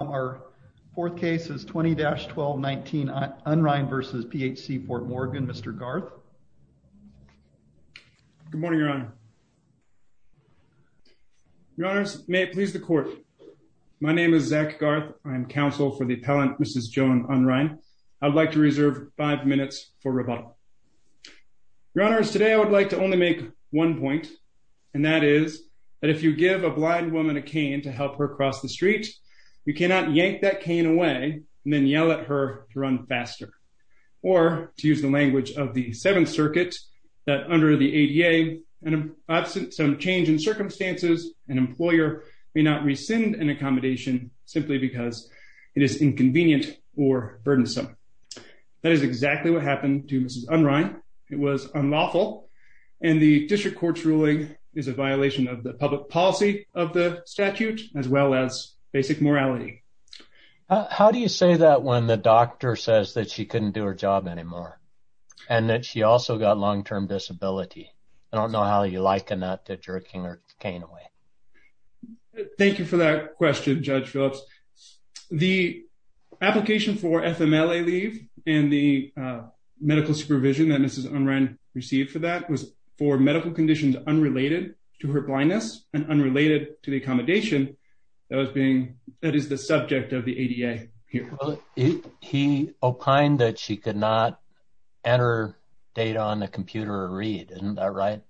Our fourth case is 20-12-19 Unrein v. PHC-Fort Morgan. Mr. Garth. Good morning, your honor. Your honors, may it please the court. My name is Zach Garth. I'm counsel for the appellant Mrs. Joan Unrein. I'd like to reserve five minutes for rebuttal. Your honors, today I would like to only make one point and that is that if you give a blind woman a cane to help her cross the street, you cannot yank that cane away and then yell at her to run faster. Or, to use the language of the Seventh Circuit, that under the ADA and absent some change in circumstances, an employer may not rescind an accommodation simply because it is inconvenient or burdensome. That is exactly what happened to Mrs. Unrein. It was unlawful and the district court's ruling is a violation of the public policy of the statute as well as basic morality. How do you say that when the doctor says that she couldn't do her job anymore and that she also got long-term disability? I don't know how you liken that to jerking her cane away. Thank you for that question, Judge Phillips. The application for FMLA leave and the medical supervision that Mrs. Unrein received for that was for medical conditions unrelated to her blindness and unrelated to the accommodation that is the subject of the ADA here. He opined that she could not enter data on the computer or read. Isn't that right?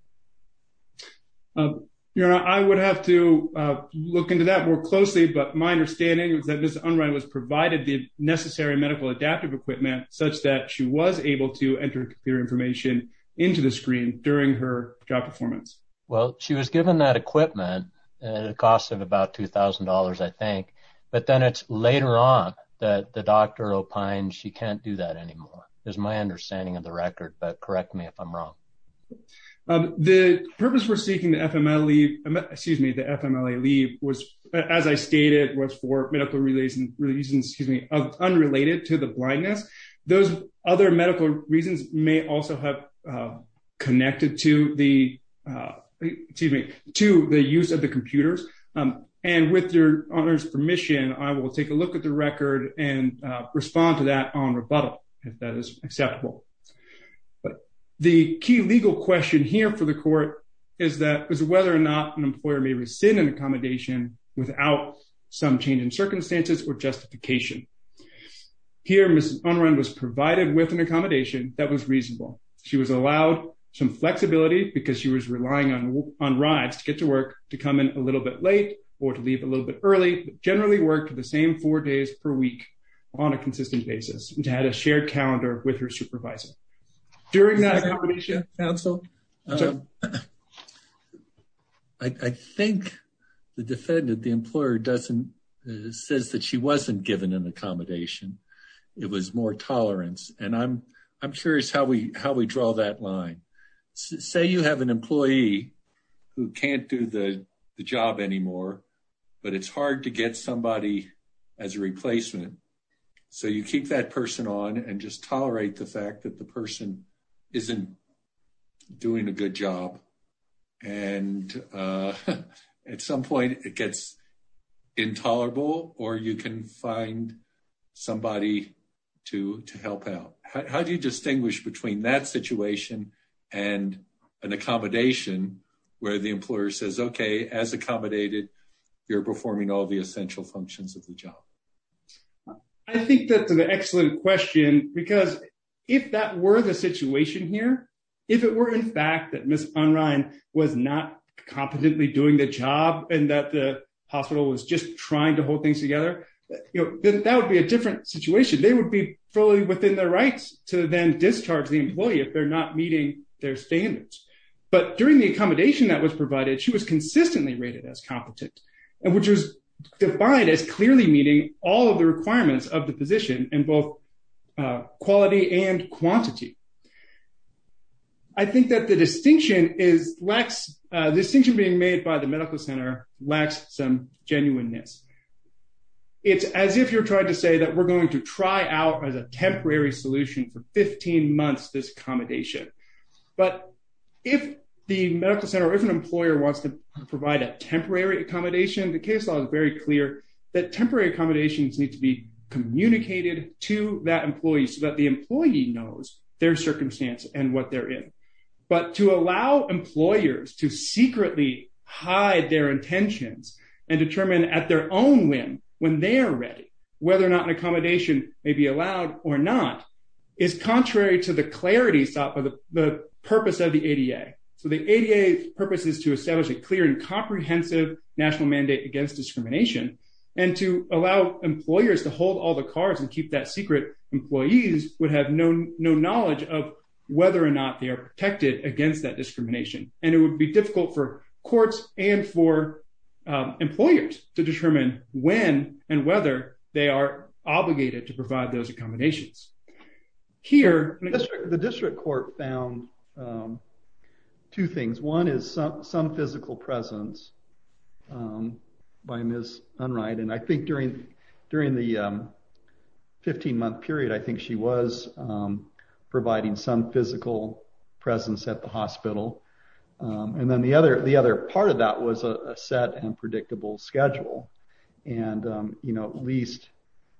Your honor, I would have to look into that more closely, but my understanding is that Mrs. Unrein was provided the necessary medical adaptive equipment such that she was able to enter computer information into the screen during her job performance. Well, she was given that equipment at a cost of about $2,000, I think, but then it's later on that the doctor opined she can't do that anymore is my understanding of the record, but correct me if I'm wrong. The purpose for seeking FMLA leave was, as I stated, was for medical reasons unrelated to the blindness. Those other medical reasons may also have connected to the use of the computers. With your honor's permission, I will take a look at the record and respond to that on rebuttal if that is acceptable. But the key legal question here for the court is whether or not an employer may rescind an accommodation without some change in circumstances or justification. Here, Mrs. Unrein was provided with an accommodation that was reasonable. She was allowed some flexibility because she was relying on rides to get to work to come in a little bit late or to leave a little bit early, but generally worked the same four days per week on a consistent basis and had a shared calendar with her supervisor. During that accommodation, counsel? I think the defendant, the employer, says that she wasn't given an accommodation. It was more tolerance, and I'm curious how we draw that line. Say you have an employee who can't do the job anymore, but it's hard to get somebody as a replacement, so you keep that person on and just tolerate the fact that the person isn't doing a good job. At some point, it gets intolerable, or you can find somebody to help out. How do you where the employer says, okay, as accommodated, you're performing all the essential functions of the job? I think that's an excellent question, because if that were the situation here, if it were in fact that Mrs. Unrein was not competently doing the job and that the hospital was just trying to hold things together, then that would be a different situation. They would be fully within their rights to then discharge the employee if they're not meeting their standards. During the accommodation that was provided, she was consistently rated as competent, and which was defined as clearly meeting all of the requirements of the position in both quality and quantity. I think that the distinction being made by the medical center lacks some genuineness. It's as if you're trying to say that we're going to try out as a temporary solution for 15 months this accommodation. If the medical center or if an employer wants to provide a temporary accommodation, the case law is very clear that temporary accommodations need to be communicated to that employee so that the employee knows their circumstance and what they're in. To allow employers to secretly hide their intentions and determine at their own whim when they are ready whether or not accommodation may be allowed or not is contrary to the clarity sought by the purpose of the ADA. The ADA's purpose is to establish a clear and comprehensive national mandate against discrimination and to allow employers to hold all the cards and keep that secret, employees would have no knowledge of whether or not they are protected against that discrimination. It would be difficult for courts and for employers to determine when and whether they are obligated to provide those accommodations. Here, the district court found two things. One is some physical presence by Ms. Unright, and I think during the 15-month period, I think she was providing some physical presence at the hospital. The other part of that was a set and predictable schedule. At least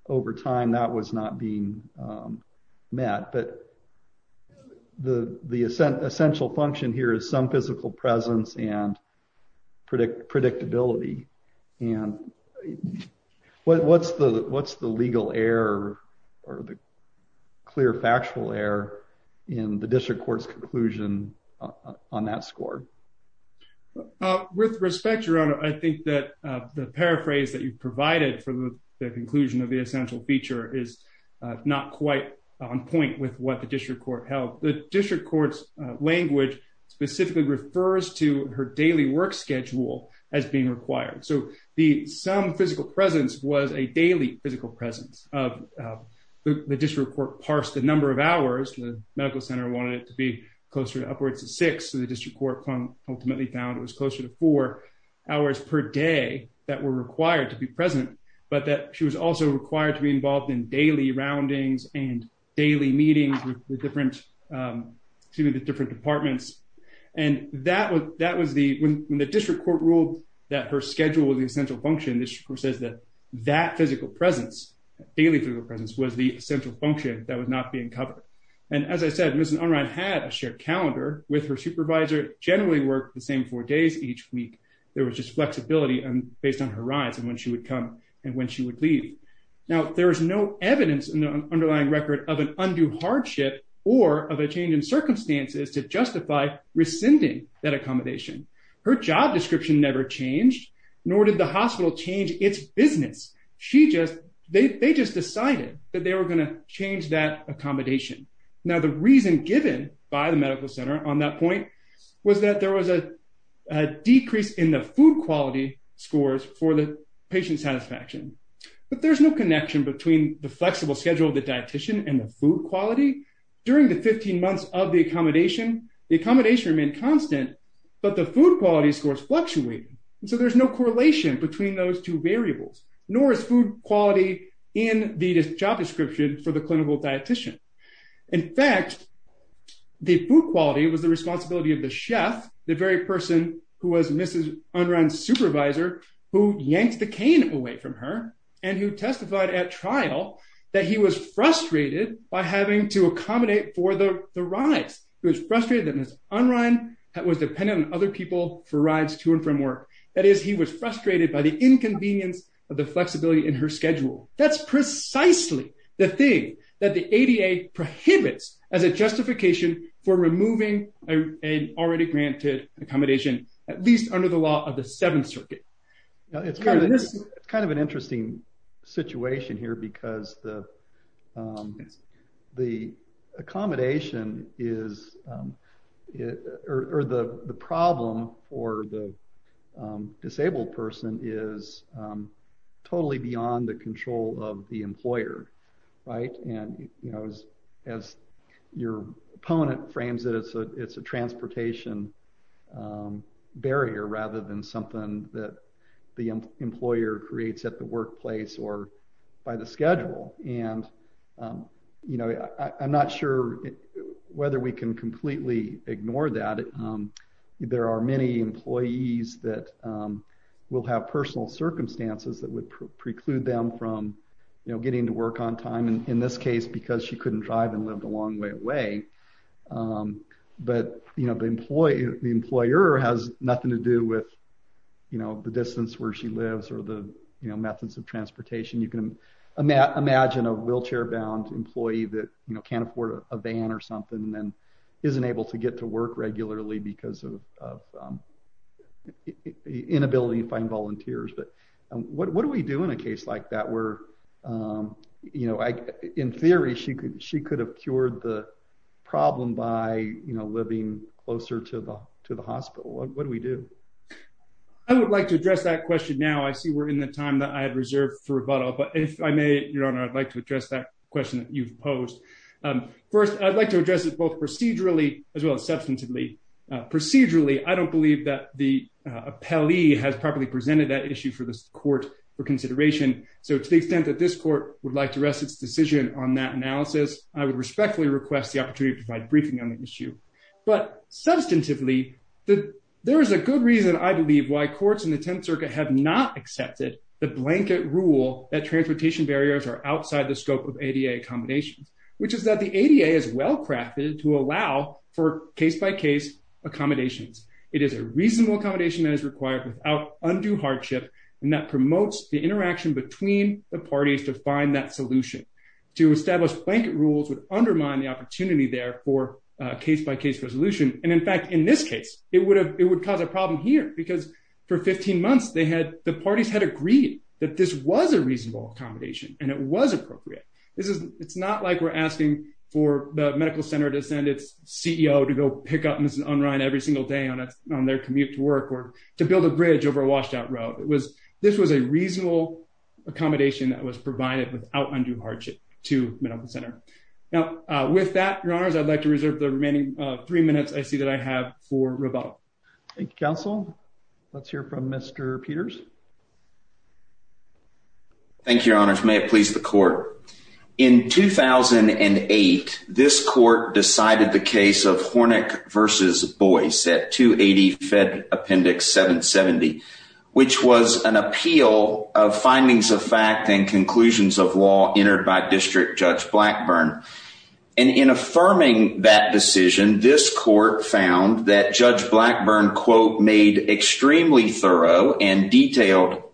over time, that was not being met. The essential function here is some physical presence and predictability. What's the legal error or the clear factual error in the district court's conclusion on that score? With respect, Your Honor, I think that the paraphrase that you provided for the conclusion of the essential feature is not quite on point with what the her daily work schedule as being required. Some physical presence was a daily physical presence. The district court parsed the number of hours. The medical center wanted it to be closer to upwards of six. The district court ultimately found it was closer to four hours per day that were required to be present, but that she was also required to be involved in daily roundings and daily meetings with different departments. When the district court ruled that her schedule was the essential function, the district court says that that physical presence, daily physical presence, was the essential function that was not being covered. As I said, Ms. Unright had a shared calendar with her supervisor, generally worked the same four days each week. There was just flexibility based on her rides and when she would come and when she would leave. Now, there is no evidence in the underlying record of an undue hardship or of a change in circumstances to justify rescinding that accommodation. Her job description never changed, nor did the hospital change its business. They just decided that they were going to change that accommodation. Now, the reason given by the medical center on that point was that there was a decrease in the food quality scores for the patient satisfaction, but there's no connection between the flexible schedule of the dietician and the food quality. During the 15 months of the accommodation, the accommodation remained constant, but the food quality scores fluctuated. So, there's no correlation between those two variables, nor is food quality in the job description for the clinical dietician. In fact, the food quality was the responsibility of the chef, the very person who was Mrs. Unright's supervisor, who yanked the cane away from her and who testified at trial that he was frustrated by having to accommodate for the rides. He was frustrated that Ms. Unright was dependent on other people for rides to and from work. That is, he was frustrated by the inconvenience of the flexibility in her schedule. That's precisely the thing that the ADA prohibits as a justification for removing an already granted accommodation, at least under the law of the Seventh Circuit. It's kind of an interesting situation here because the accommodation or the problem for the disabled person is totally beyond the control of the employer. As your opponent frames it, it's a transportation barrier rather than something that the employer creates at the workplace or by the schedule. I'm not sure whether we can completely ignore that. There are many employees that will have personal circumstances that would preclude them from getting to work on time, in this case, because she couldn't drive and lived a long way away. The employer has nothing to do with the distance where she lives or the methods of transportation. You can imagine a wheelchair-bound employee that can't afford a van or something and isn't able to get to work regularly because of the inability to find volunteers. What do we do in a case like that? In theory, she could have cured the problem by living closer to the hospital. What do we do? I would like to address that question now. I see we're in the time that I had reserved for rebuttal. Your Honor, I'd like to address that question that you've posed. First, I'd like to address it both procedurally as well as substantively. Procedurally, I don't believe that the appellee has properly presented that issue for this court for consideration. To the extent that this court would like to rest its decision on that analysis, I would respectfully request the opportunity to provide a briefing on the issue. Substantively, there is a good reason, I believe, why courts in the Tenth Circuit have not accepted the blanket rule that transportation to allow for case-by-case accommodations. It is a reasonable accommodation that is required without undue hardship and that promotes the interaction between the parties to find that solution. To establish blanket rules would undermine the opportunity there for case-by-case resolution. In fact, in this case, it would cause a problem here because for 15 months, the parties had agreed that this was a reasonable accommodation and it was appropriate. It's not like we're asking for Medical Center to send its CEO to go pick up Mrs. Unrein every single day on their commute to work or to build a bridge over a washed-out road. This was a reasonable accommodation that was provided without undue hardship to Medical Center. Now, with that, Your Honors, I'd like to reserve the remaining three minutes I see that I have for rebuttal. Thank you, Counsel. Let's hear from Mr. Peters. Thank you, Your Honors. May it please the Court. In 2008, this Court decided the case of Hornick v. Boyce at 280 Fed Appendix 770, which was an appeal of findings of fact and conclusions of law entered by District Judge Blackburn. And in affirming that decision, this Court found that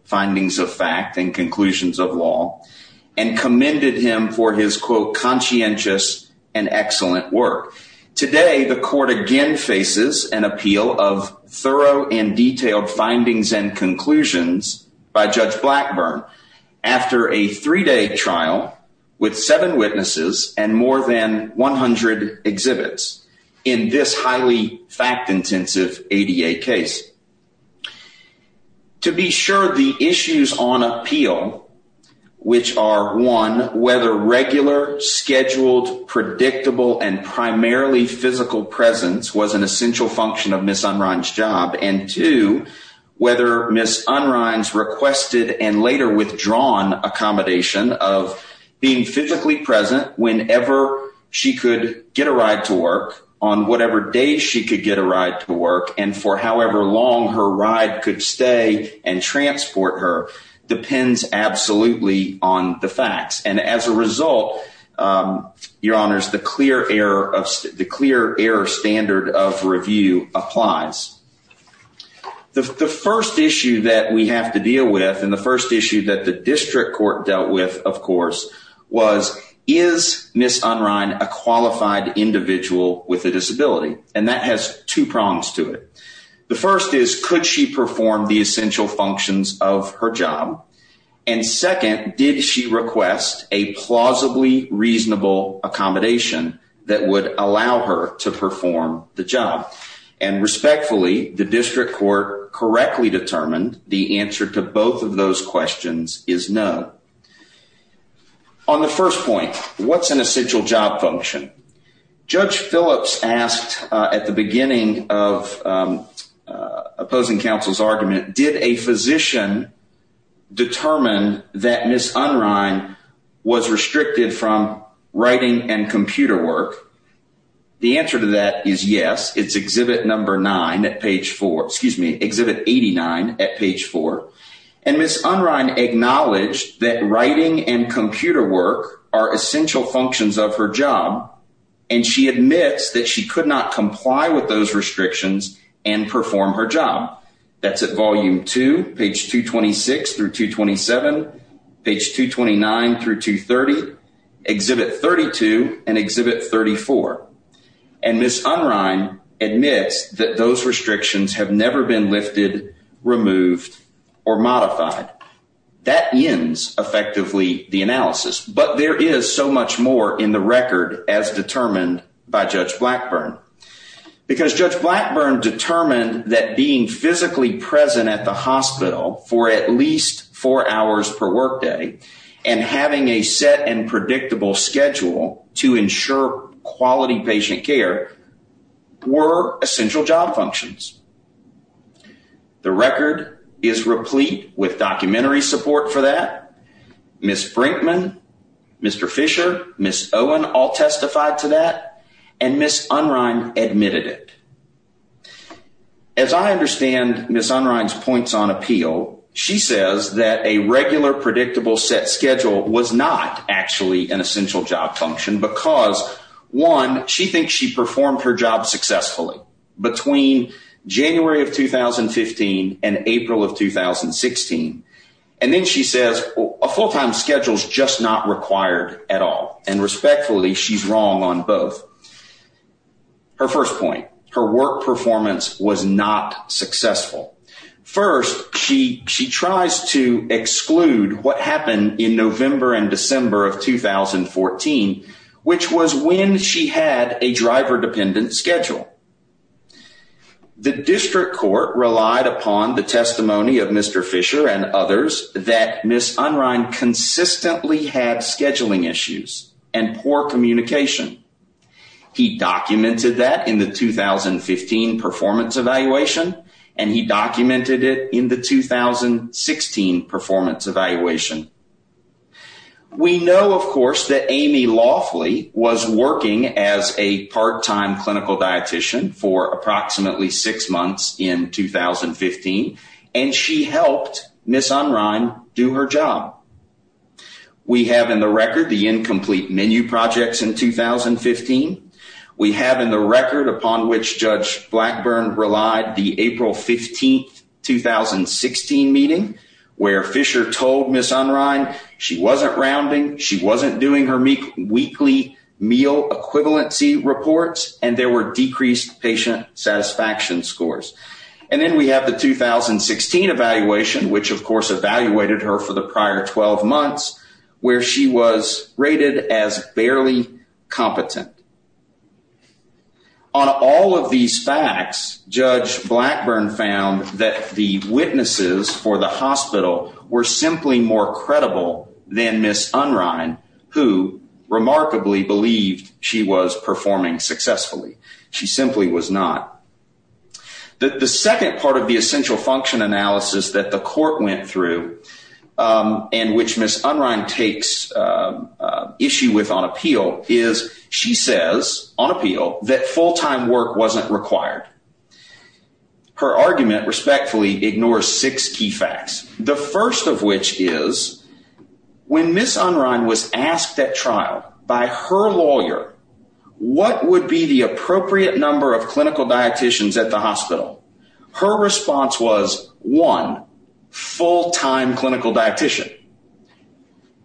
findings of fact and conclusions of law and commended him for his, quote, conscientious and excellent work. Today, the Court again faces an appeal of thorough and detailed findings and conclusions by Judge Blackburn after a three-day trial with seven witnesses and more than 100 the issues on appeal, which are, one, whether regular, scheduled, predictable, and primarily physical presence was an essential function of Ms. Unrein's job, and two, whether Ms. Unrein's requested and later withdrawn accommodation of being physically present whenever she could get a ride to work on whatever day she could get a ride to work and for however long her ride could stay and transport her depends absolutely on the facts. And as a result, Your Honors, the clear error standard of review applies. The first issue that we have to deal with and the first issue that the District Court dealt with, of course, was is Ms. Unrein a qualified individual with a disability? And that has two prongs to it. The first is could she perform the essential functions of her job? And second, did she request a plausibly reasonable accommodation that would allow her to perform the job? And respectfully, the District Court correctly determined the answer to both of those questions is no. On the first point, what's an essential job function? Judge Phillips asked at the beginning of opposing counsel's argument, did a physician determine that Ms. Unrein was restricted from writing and computer work? The answer to that is yes, it's Exhibit Number 9 at page 4, excuse me, Exhibit 89 at page 4. And Ms. Unrein acknowledged that writing and computer work are essential functions of her job. And she admits that she could not comply with those restrictions and perform her job. That's at Volume 2, page 226 through 227, page 229 through 230, Exhibit 32 and Exhibit 34. And Ms. Unrein admits that those effectively the analysis, but there is so much more in the record as determined by Judge Blackburn. Because Judge Blackburn determined that being physically present at the hospital for at least four hours per workday and having a set and predictable schedule to ensure quality patient care were essential job functions. The record is replete with documentary support for that. Ms. Brinkman, Mr. Fisher, Ms. Owen all testified to that. And Ms. Unrein admitted it. As I understand Ms. Unrein's points on appeal, she says that a regular predictable set schedule was not actually an essential job function because one, she thinks she performed her job successfully between January of 2015 and April of 2016. And then she says a full-time schedule is just not required at all. And respectfully, she's wrong on both. Her first point, her work performance was not successful. First, she tries to exclude what happened in November and December of 2014, which was when she had a driver-dependent schedule. The district court relied upon the testimony of Mr. Fisher and others that Ms. Unrein consistently had scheduling issues and poor communication. He documented that in the 2015 performance evaluation, and he documented it in the 2016 performance evaluation. We know, of course, that Amy Laughley was working as a part-time clinical dietitian for approximately six months in 2015, and she helped Ms. Unrein do her job. We have in the record the incomplete menu projects in 2015. We have in the record, upon which Judge Blackburn relied, the April 15, 2016 meeting, where Fisher told Ms. Unrein she wasn't rounding, she wasn't doing her weekly meal equivalency reports, and there were decreased patient satisfaction scores. And then we have the 2016 evaluation, which, of course, evaluated her for the prior 12 months, where she was rated as barely competent. On all of these facts, Judge Blackburn found that the witnesses for the hospital were simply more credible than Ms. Unrein, who remarkably believed she was performing successfully. She simply was not. The second part of the essential function analysis that the court went through, and which Ms. Unrein takes issue with on appeal, is she says on appeal that full-time work wasn't required. Her argument respectfully ignores six key facts, the first of which is when Ms. Unrein was asked at trial by her lawyer what would be the appropriate number of clinical dieticians at the hospital, her response was, one, full-time clinical dietician.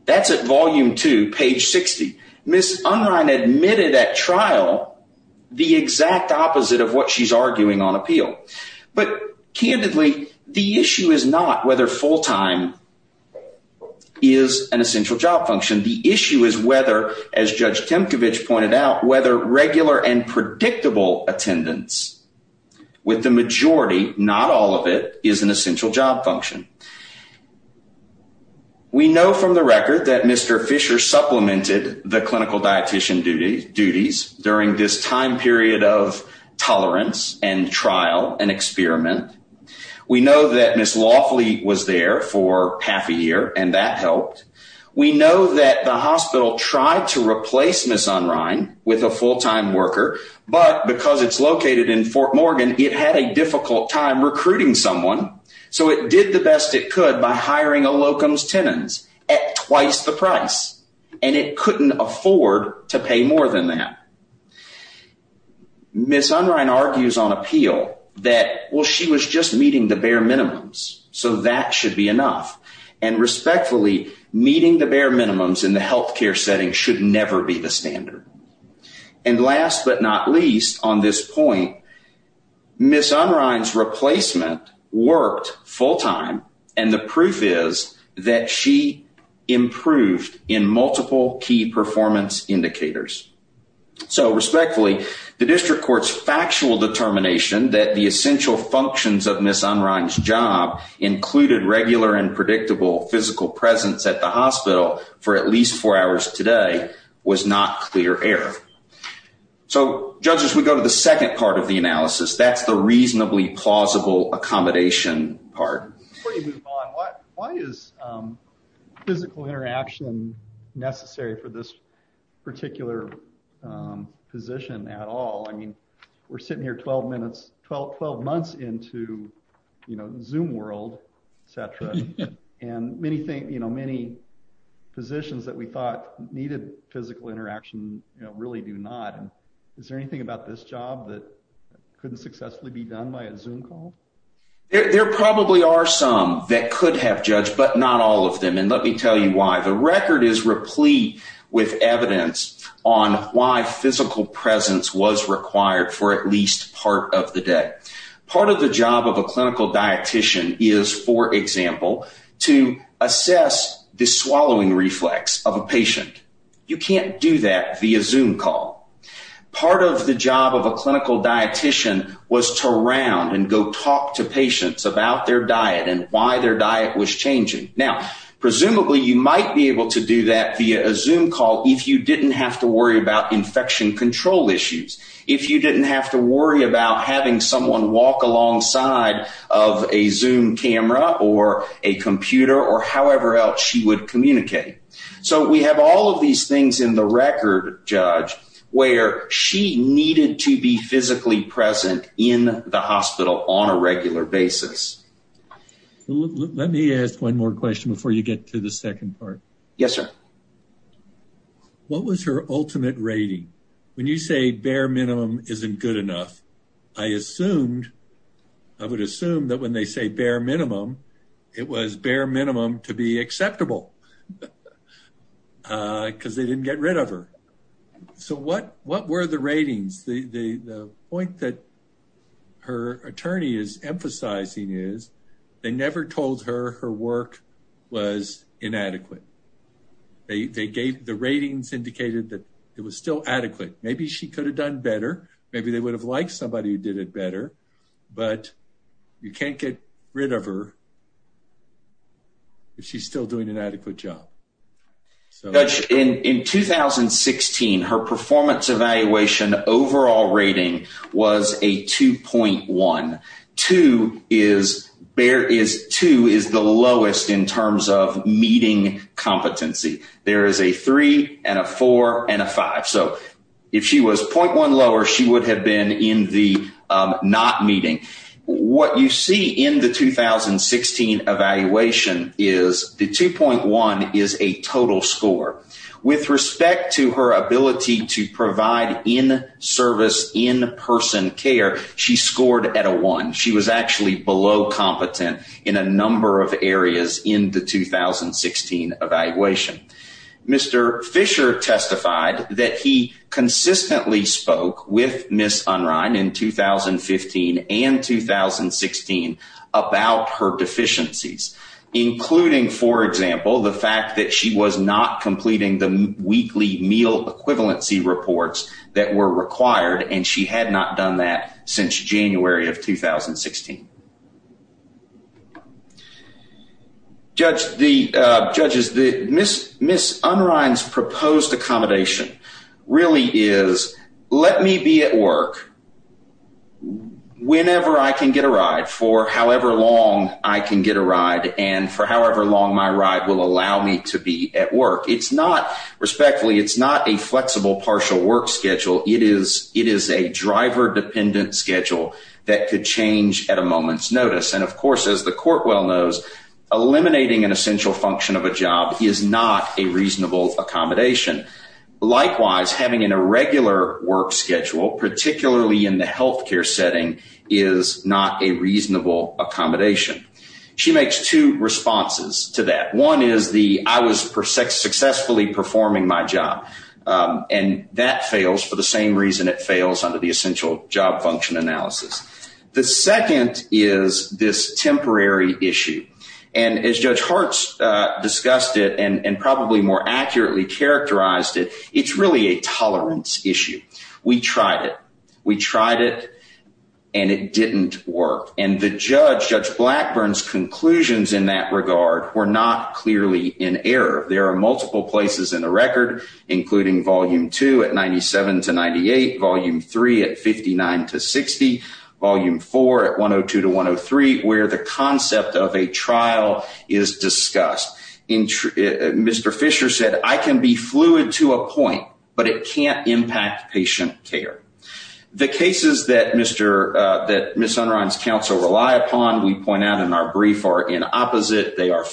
That's at volume two, page 60. Ms. Unrein admitted at trial the exact opposite of what she's arguing on appeal. But candidly, the issue is not whether full-time is an essential job function. The issue is whether, as Judge Temkevich pointed out, whether regular and predictable attendance with the majority, not all of it, is an essential job function. We know from the record that Mr. Fisher supplemented the clinical dietician duties during this time period of tolerance and trial and experiment. We know that Ms. Loffley was there for half a year, and that helped. We know that the hospital tried to replace Ms. Unrein with a full-time worker, but because it's located in Fort Morgan, it had a difficult time recruiting someone, so it did the best it could by hiring a locum's tenants at twice the price, and it couldn't afford to pay more than that. Ms. Unrein argues on appeal that, well, she was just meeting the bare minimums, so that should be enough. And respectfully, meeting the bare minimums in the healthcare setting should never be the standard. And last but not least on this point, Ms. Unrein's indicators. So respectfully, the district court's factual determination that the essential functions of Ms. Unrein's job included regular and predictable physical presence at the hospital for at least four hours today was not clear air. So judges, we go to the second part of the analysis. That's the reasonably plausible accommodation part. Before you move on, why is physical interaction necessary for this particular position at all? I mean, we're sitting here 12 months into Zoom world, et cetera, and many positions that we thought needed physical interaction really do not. Is there anything about this job that couldn't successfully be done by a Zoom call? There probably are some that could have judged, but not all of them. And let me tell you why. The record is replete with evidence on why physical presence was required for at least part of the day. Part of the job of a clinical dietitian is, for example, to assess the swallowing reflex of a patient. You can't do that via Zoom call. Part of the job of a clinical dietitian was to round and go talk to patients about their diet and why their diet was changing. Now, presumably you might be able to do that via a Zoom call if you didn't have to worry about infection control issues, if you didn't have to worry about having someone walk alongside of a Zoom camera or a computer or however else you would communicate. So we have all of these things in the record, Judge, where she needed to be physically present in the hospital on a regular basis. Let me ask one more question before you get to the second part. Yes, sir. What was her ultimate rating? When you say bare minimum isn't good enough, I assumed, I would assume that when they say bare minimum, it was bare minimum to be acceptable. Because they didn't get rid of her. So what were the ratings? The point that her attorney is emphasizing is they never told her her work was inadequate. They gave the ratings indicated that it was still adequate. Maybe she could have done better. Maybe they would have liked somebody who did it better. But you can't get rid of her if she's still doing an adequate job. In 2016, her performance evaluation overall rating was a 2.1. Two is the lowest in terms of meeting competency. There is a three and a four and a five. So if she was 0.1 lower, she would have been in the not meeting. What you see in the 2016 evaluation is the 2.1 is a total score. With respect to her ability to provide in-service in-person care, she scored at a one. She was actually below competent in a number of areas in the 2016 evaluation. Mr. Fisher testified that he consistently spoke with Ms. Unrein in 2015 and 2016 about her deficiencies, including, for example, the fact that she was not completing the weekly meal equivalency reports that were required and she had not done that since January of 2016. Judges, Ms. Unrein's proposed accommodation really is, let me be at work whenever I can get a ride, for however long I can get a ride, and for however long my ride will allow me to be at work. It's not, respectfully, it's not a flexible partial work schedule. It is a driver-dependent schedule that could change at a moment's notice. And of course, as the court well knows, eliminating an essential function of a job is not a reasonable accommodation. Likewise, having an irregular work schedule, particularly in the healthcare setting, is not a reasonable accommodation. She makes two responses to that. One is the, I was successfully performing my job, and that fails for the same reason it fails under the essential job function analysis. The second is this temporary issue. And as Judge Hartz discussed it and probably more accurately characterized it, it's really a tolerance issue. We tried it. We tried it, and it didn't work. And the judge, Judge Blackburn's conclusions in that regard were not clearly in error. There are volume two at 97-98, volume three at 59-60, volume four at 102-103, where the concept of a trial is discussed. Mr. Fisher said, I can be fluid to a point, but it can't impact patient care. The cases that Ms. Unrine's counsel rely upon, we point out in our brief, are in opposite. They are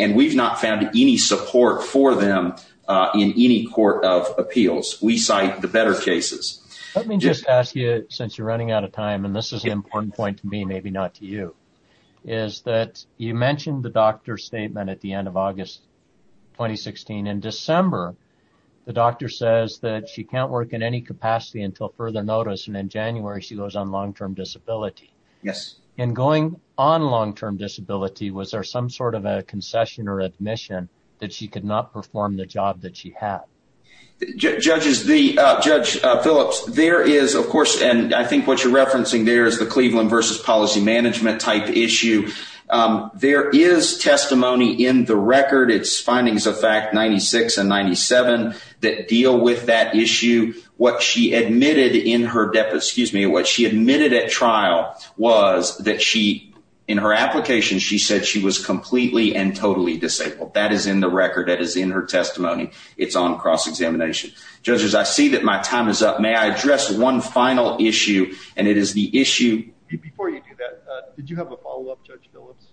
and we've not found any support for them in any court of appeals. We cite the better cases. Let me just ask you, since you're running out of time, and this is an important point to me, maybe not to you, is that you mentioned the doctor's statement at the end of August 2016. In December, the doctor says that she can't work in any capacity until further notice. And in January, she goes on long-term disability. Yes. And going on long-term disability, was there some sort of a concession or admission that she could not perform the job that she had? Judges, Judge Phillips, there is, of course, and I think what you're referencing there is the Cleveland versus policy management type issue. There is testimony in the record. It's findings of fact 96 and 97 that deal with that issue. What she admitted in her, excuse me, what she admitted at trial was that she, in her application, she said she was completely and totally disabled. That is in the record. That is in her testimony. It's on cross-examination. Judges, I see that my time is up. May I address one final issue? And it is the issue... Before you do that, did you have a follow-up, Judge Phillips?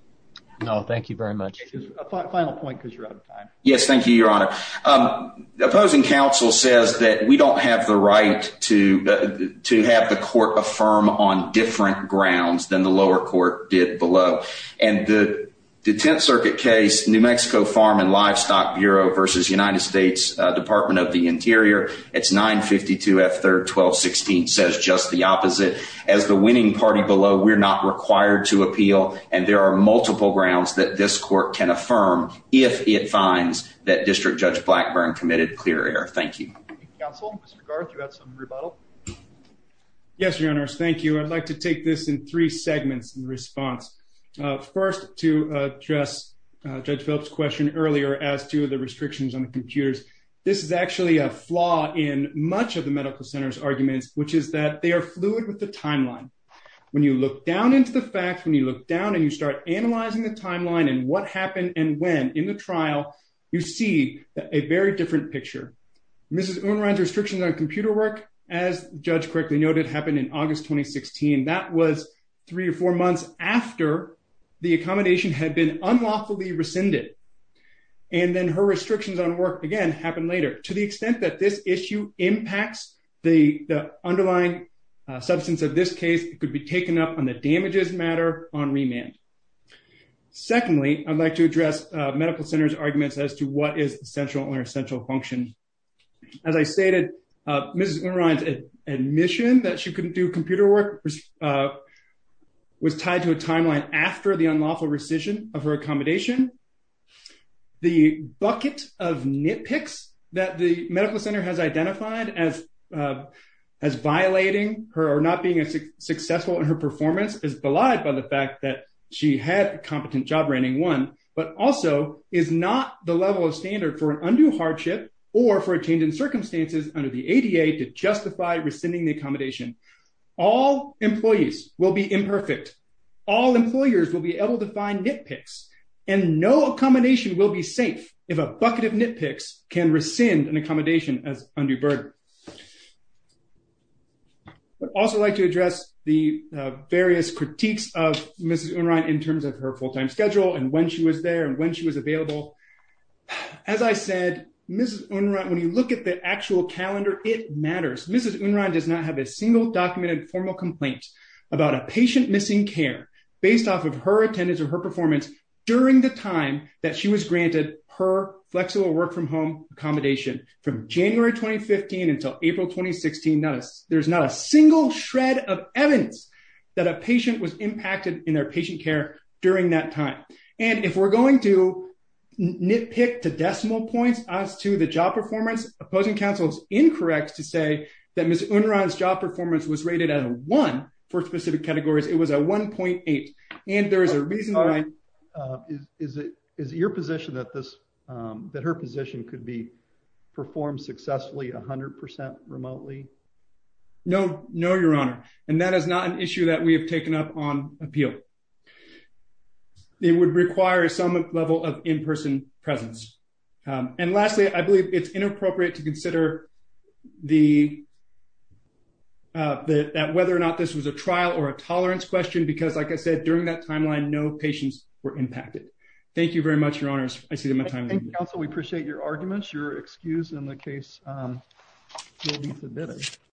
No, thank you very much. A final point because you're out of time. Yes, thank you, Your Honor. The opposing counsel says that we don't have the right to have the court affirm on different grounds than the lower court did below. And the Tenth Circuit case, New Mexico Farm and Livestock Bureau versus United States Department of the Interior, it's 952 F. 3rd, 1216, says just the opposite. As the winning party below, we're not required to appeal. And there are multiple grounds that this court can affirm if it finds that District Judge Blackburn committed clear error. Thank you. Counsel, Mr. Garth, you had some rebuttal? Yes, Your Honors. Thank you. I'd like to take this in three segments in response. First, to address Judge Phillips' question earlier as to the restrictions on the computers. This is actually a flaw in much of the medical center's arguments, which is that they are fluid with the timeline. When you look down into the facts, when you look down and you start analyzing the timeline and what happened and when in the trial, you see a very different picture. Mrs. Unrein's restrictions on computer work, as Judge correctly noted, happened in August 2016. That was three or four months after the accommodation had been unlawfully rescinded. And then her restrictions on work again happened later. To the extent that this issue impacts the underlying substance of this case, it could be taken up on the damages matter on remand. Secondly, I'd like to address medical center's arguments as to what is essential or essential function. As I stated, Mrs. Unrein's admission that she couldn't do computer work was tied to a timeline after the unlawful rescission of her accommodation. The bucket of nitpicks that the medical center has identified as violating her or not being successful in her performance is belied by the fact that she had a competent job rating one, but also is not the level of standard for an undue hardship or for a change in circumstances under the ADA to justify rescinding the accommodation. All employees will be imperfect. All employers will be able to find nitpicks and no accommodation will be safe if a bucket of nitpicks can rescind an accommodation as undue burden. I'd also like to address the various critiques of Mrs. Unrein in terms of her full-time schedule and when she was there and when she was available. As I said, Mrs. Unrein, when you look at the actual calendar, it matters. Mrs. Unrein does not have a single documented formal complaint about a patient missing care based off of her attendance or her performance during the time that she was granted her flexible work-from-home accommodation. From January 2015 until April 2016, there's not a single shred of evidence that a patient was impacted in their patient care during that time. And if we're going to nitpick to decimal points as to the job performance, opposing counsel is incorrect to say that Mrs. Unrein's job performance was rated at a one for specific categories. It was a 1.8. And there is a reason why... Is it your position that her position could be performed successfully 100% remotely? No, no, your honor. And that is not an issue that we have taken up on appeal. It would require some level of in-person presence. And lastly, I believe it's inappropriate to consider that whether or not this was a trial or a tolerance question, because like I said, during that timeline, no patients were impacted. Thank you very much, your honors. I see that my time... Counsel, we appreciate your arguments. Your excuse in the case will be submitted.